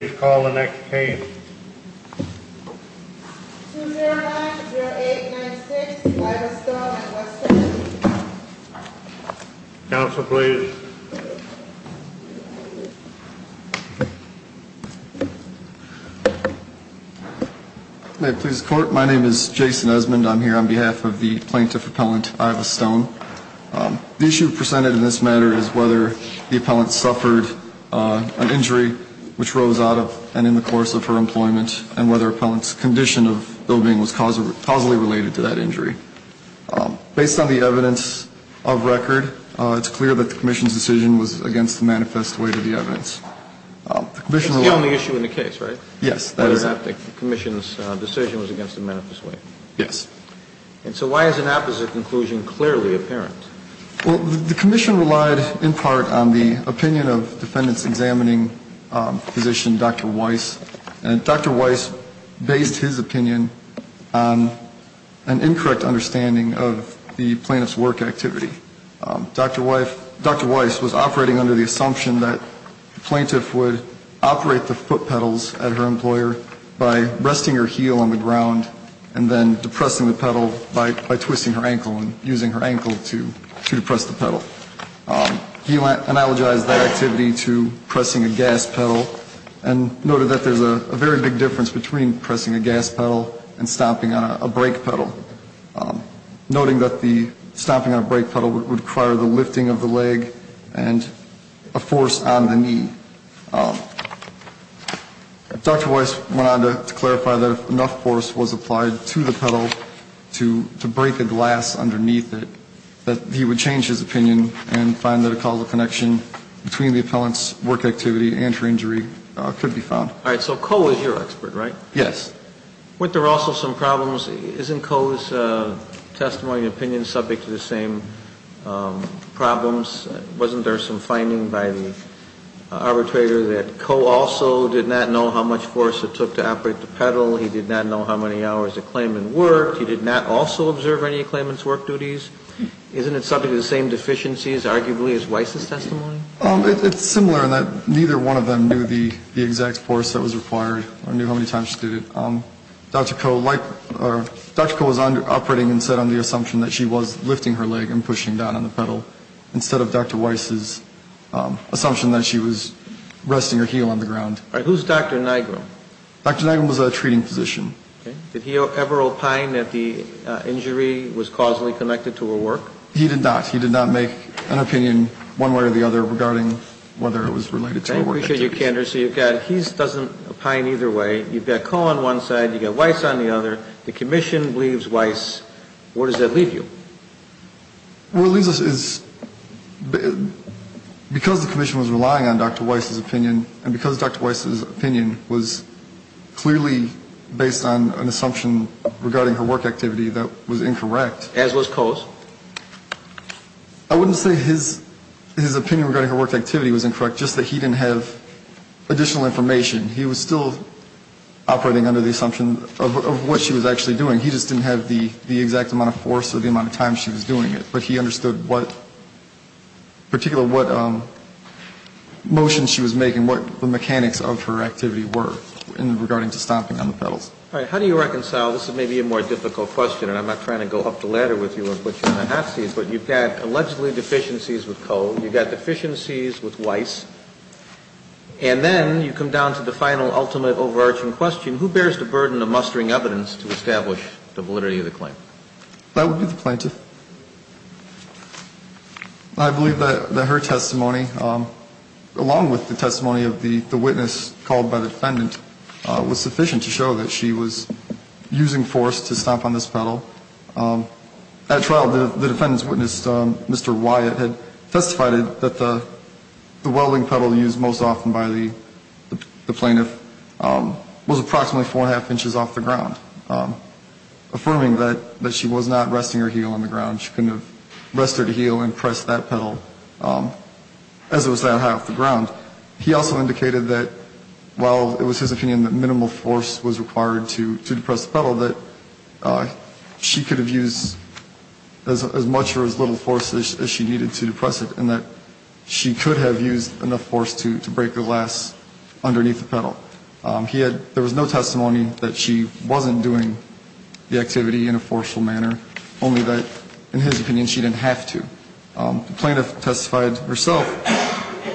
Please call the next case. Counsel, please. May it please the court. My name is Jason Esmond. I'm here on behalf of the plaintiff appellant, Iva Stone. The issue presented in this matter is whether the appellant suffered an injury which rose out of and in the course of her employment, and whether appellant's condition of well-being was causally related to that injury. Based on the evidence of record, it's clear that the commission's decision was against the manifest way to the evidence. It's the only issue in the case, right? Yes, that is it. Whether or not the commission's decision was against the manifest way. Yes. And so why is an opposite conclusion clearly apparent? Well, the commission relied in part on the opinion of defendant's examining physician, Dr. Weiss. And Dr. Weiss based his opinion on an incorrect understanding of the plaintiff's work activity. Dr. Weiss was operating under the assumption that the plaintiff would operate the foot pedals at her employer by resting her heel on the ground and then depressing the pedal by twisting her ankle and using her ankle to depress the pedal. He analogized that activity to pressing a gas pedal, and noted that there's a very big difference between pressing a gas pedal and stomping on a brake pedal, noting that the stomping on a brake pedal would require the lifting of the leg and a force on the knee. Dr. Weiss went on to clarify that if enough force was applied to the pedal to break the glass underneath it, that he would change his opinion and find that a causal connection between the appellant's work activity and her injury could be found. All right. So Coe is your expert, right? Yes. Weren't there also some problems? Isn't Coe's testimony and opinion subject to the same problems? Wasn't there some finding by the arbitrator that Coe also did not know how much force it took to operate the pedal? He did not know how many hours the claimant worked. He did not also observe any of the claimant's work duties. Isn't it subject to the same deficiencies, arguably, as Weiss' testimony? It's similar in that neither one of them knew the exact force that was required or knew how many times she did it. Dr. Coe was operating instead on the assumption that she was lifting her leg and pushing down on the pedal, instead of Dr. Weiss' assumption that she was resting her heel on the ground. All right. Who's Dr. Nigrum? Dr. Nigrum was a treating physician. Did he ever opine that the injury was causally connected to her work? He did not. He did not make an opinion one way or the other regarding whether it was related to her work activities. I appreciate your candor. So you've got he doesn't opine either way. You've got Coe on one side, you've got Weiss on the other. The commission believes Weiss. Where does that leave you? Well, it leaves us as because the commission was relying on Dr. Weiss' opinion and because Dr. Weiss' opinion was clearly based on an assumption regarding her work activity that was incorrect. As was Coe's. I wouldn't say his opinion regarding her work activity was incorrect, just that he didn't have additional information. He was still operating under the assumption of what she was actually doing. He just didn't have the exact amount of force or the amount of time she was doing it. But he understood what, particularly what motions she was making, what the mechanics of her activity were in regarding to stomping on the pedals. All right. How do you reconcile, this is maybe a more difficult question, and I'm not trying to go up the ladder with you of what you're going to have to see, but you've got allegedly deficiencies with Coe, you've got deficiencies with Weiss, and then you come down to the final ultimate overarching question, who bears the burden of mustering evidence to establish the validity of the claim? That would be the plaintiff. I believe that her testimony, along with the testimony of the witness called by the defendant, was sufficient to show that she was using force to stomp on this pedal. At trial, the defendant's witness, Mr. Wyatt, had testified that the welding pedal used most often by the plaintiff was approximately four and a half inches off the ground, affirming that she was not resting her heel on the ground. She couldn't have rested her heel and pressed that pedal as it was that high off the ground. He also indicated that while it was his opinion that minimal force was required to press the pedal, she could have used as much or as little force as she needed to press it and that she could have used enough force to break the glass underneath the pedal. There was no testimony that she wasn't doing the activity in a forceful manner, only that in his opinion she didn't have to. The plaintiff testified herself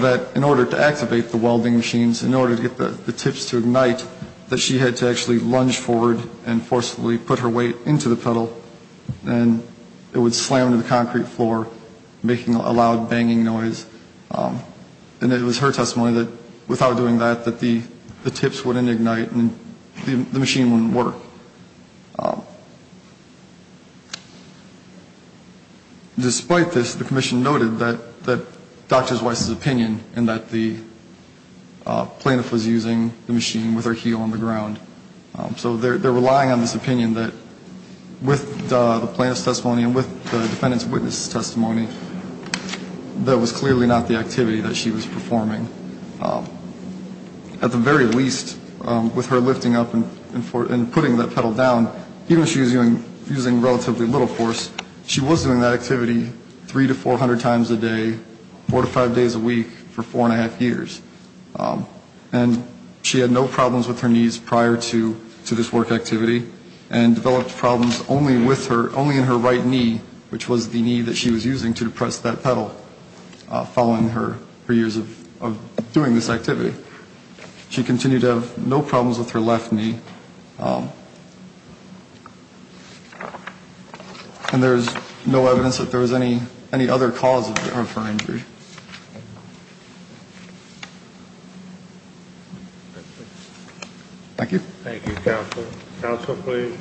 that in order to activate the welding machines, in order to get the tips to ignite, that she had to actually lunge forward and forcefully put her weight into the pedal, and it would slam into the concrete floor, making a loud banging noise. And it was her testimony that without doing that, that the tips wouldn't ignite and the machine wouldn't work. So despite this, the commission noted that Dr. Weiss's opinion in that the plaintiff was using the machine with her heel on the ground. So they're relying on this opinion that with the plaintiff's testimony and with the defendant's witness testimony, that was clearly not the activity that she was performing. At the very least, with her lifting up and putting that pedal down, even though she was using relatively little force, she was doing that activity three to four hundred times a day, four to five days a week for four and a half years. And she had no problems with her knees prior to this work activity and developed problems only in her right knee, which was the knee that she was using to press that pedal following her years of doing this activity. She continued to have no problems with her left knee, and there's no evidence that there was any other cause of her injury. Thank you. Thank you, counsel. Counsel, please.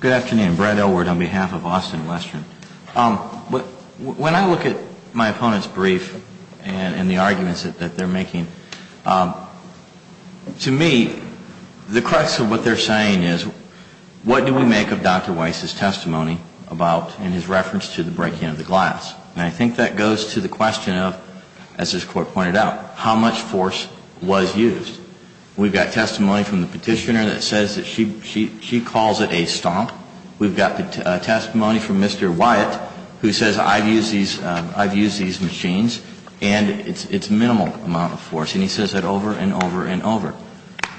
Good afternoon. Brad Elward on behalf of Austin Western. When I look at my opponent's brief and the arguments that they're making, to me the crux of what they're saying is, what do we make of Dr. Weiss's testimony about and his reference to the breaking of the glass? And I think that goes to the question of, as this Court pointed out, how much force was used. We've got testimony from the petitioner that says that she calls it a stomp. We've got testimony from Mr. Wyatt who says, I've used these machines and it's minimal amount of force. And he says that over and over and over.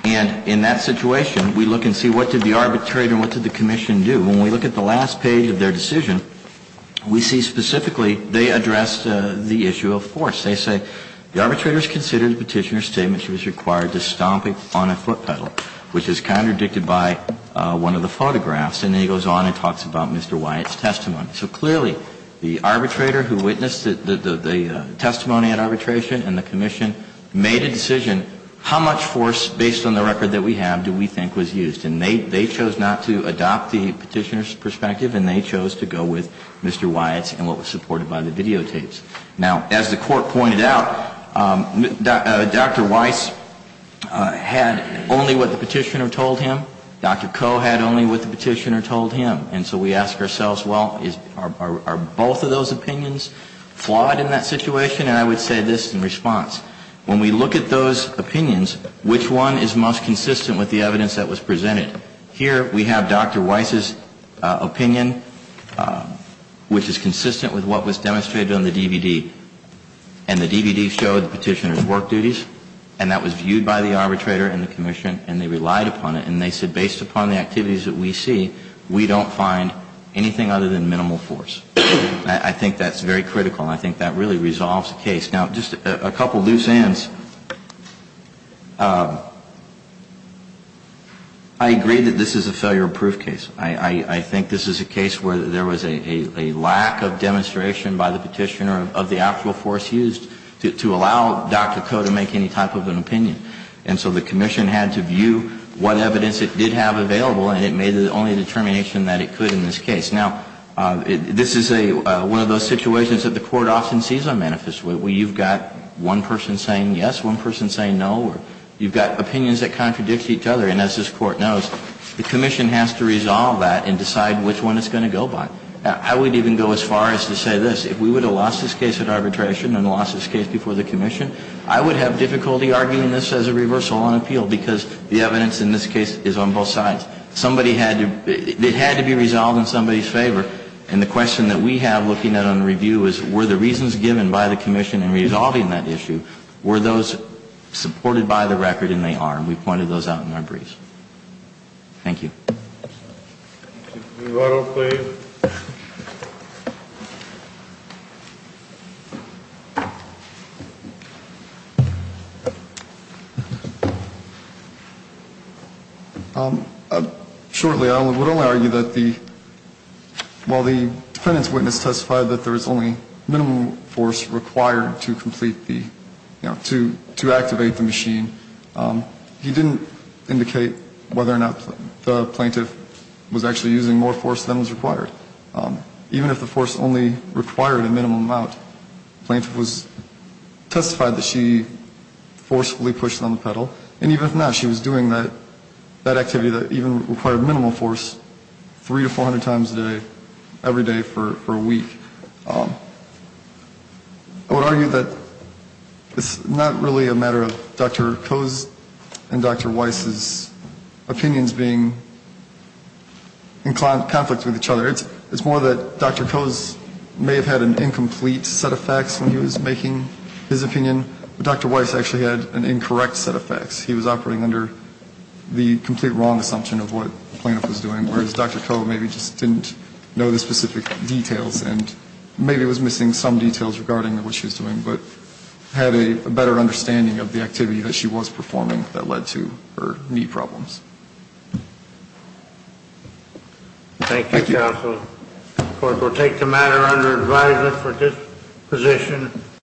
And in that situation, we look and see what did the arbitrator and what did the commission do? When we look at the last page of their decision, we see specifically they addressed the issue of force. They say, The arbitrator has considered the petitioner's statement she was required to stomp on a foot pedal, which is contradicted by one of the photographs. And then he goes on and talks about Mr. Wyatt's testimony. So clearly, the arbitrator who witnessed the testimony at arbitration and the commission made a decision, how much force based on the record that we have do we think was used? And they chose not to adopt the petitioner's perspective and they chose to go with Mr. Wyatt's and what was supported by the videotapes. Now, as the Court pointed out, Dr. Weiss had only what the petitioner told him. Dr. Koh had only what the petitioner told him. And so we ask ourselves, well, are both of those opinions flawed in that situation? And I would say this in response. When we look at those opinions, which one is most consistent with the evidence that was presented? Here we have Dr. Weiss's opinion, which is consistent with what was demonstrated on the DVD. And the DVD showed the petitioner's work duties and that was viewed by the arbitrator and the commission and they relied upon it. And they said based upon the activities that we see, we don't find anything other than minimal force. I think that's very critical. I think that really resolves the case. Now, just a couple of loose ends. I agree that this is a failure of proof case. I think this is a case where there was a lack of demonstration by the petitioner of the actual force used to allow Dr. Koh to make any type of an opinion. And so the commission had to view what evidence it did have available and it made the only determination that it could in this case. Now, this is one of those situations that the Court often sees on manifest. You've got one person saying yes, one person saying no. You've got opinions that contradict each other. And as this Court knows, the commission has to resolve that and decide which one it's going to go by. I would even go as far as to say this. If we would have lost this case at arbitration and lost this case before the commission, I would have difficulty arguing this as a reversal on appeal because the evidence in this case is on both sides. Somebody had to be resolved in somebody's favor. And the question that we have looking at on review is were the reasons given by the commission in resolving that issue, were those supported by the record and they are? And we pointed those out in our briefs. Thank you. New article, please. Shortly, I would only argue that while the defendant's witness testified that there was only minimum force required to complete the, you know, to activate the machine, he didn't indicate whether or not the plaintiff was actually using more force than was required. Even if the force only required a minimum amount, the plaintiff testified that she forcefully pushed on the pedal. And even if not, she was doing that activity that even required minimum force three to four hundred times a day, every day for a week. I would argue that it's not really a matter of Dr. Coe's and Dr. Weiss's opinions being in conflict with each other. It's more that Dr. Coe's may have had an incomplete set of facts when he was making his opinion, but Dr. Weiss actually had an incorrect set of facts. He was operating under the complete wrong assumption of what the plaintiff was doing, whereas Dr. Coe maybe just didn't know the specific details and maybe was missing some details regarding what she was doing, but had a better understanding of the activity that she was performing that led to her knee problems. Thank you, counsel. Of course, we'll take the matter under advisement for this position.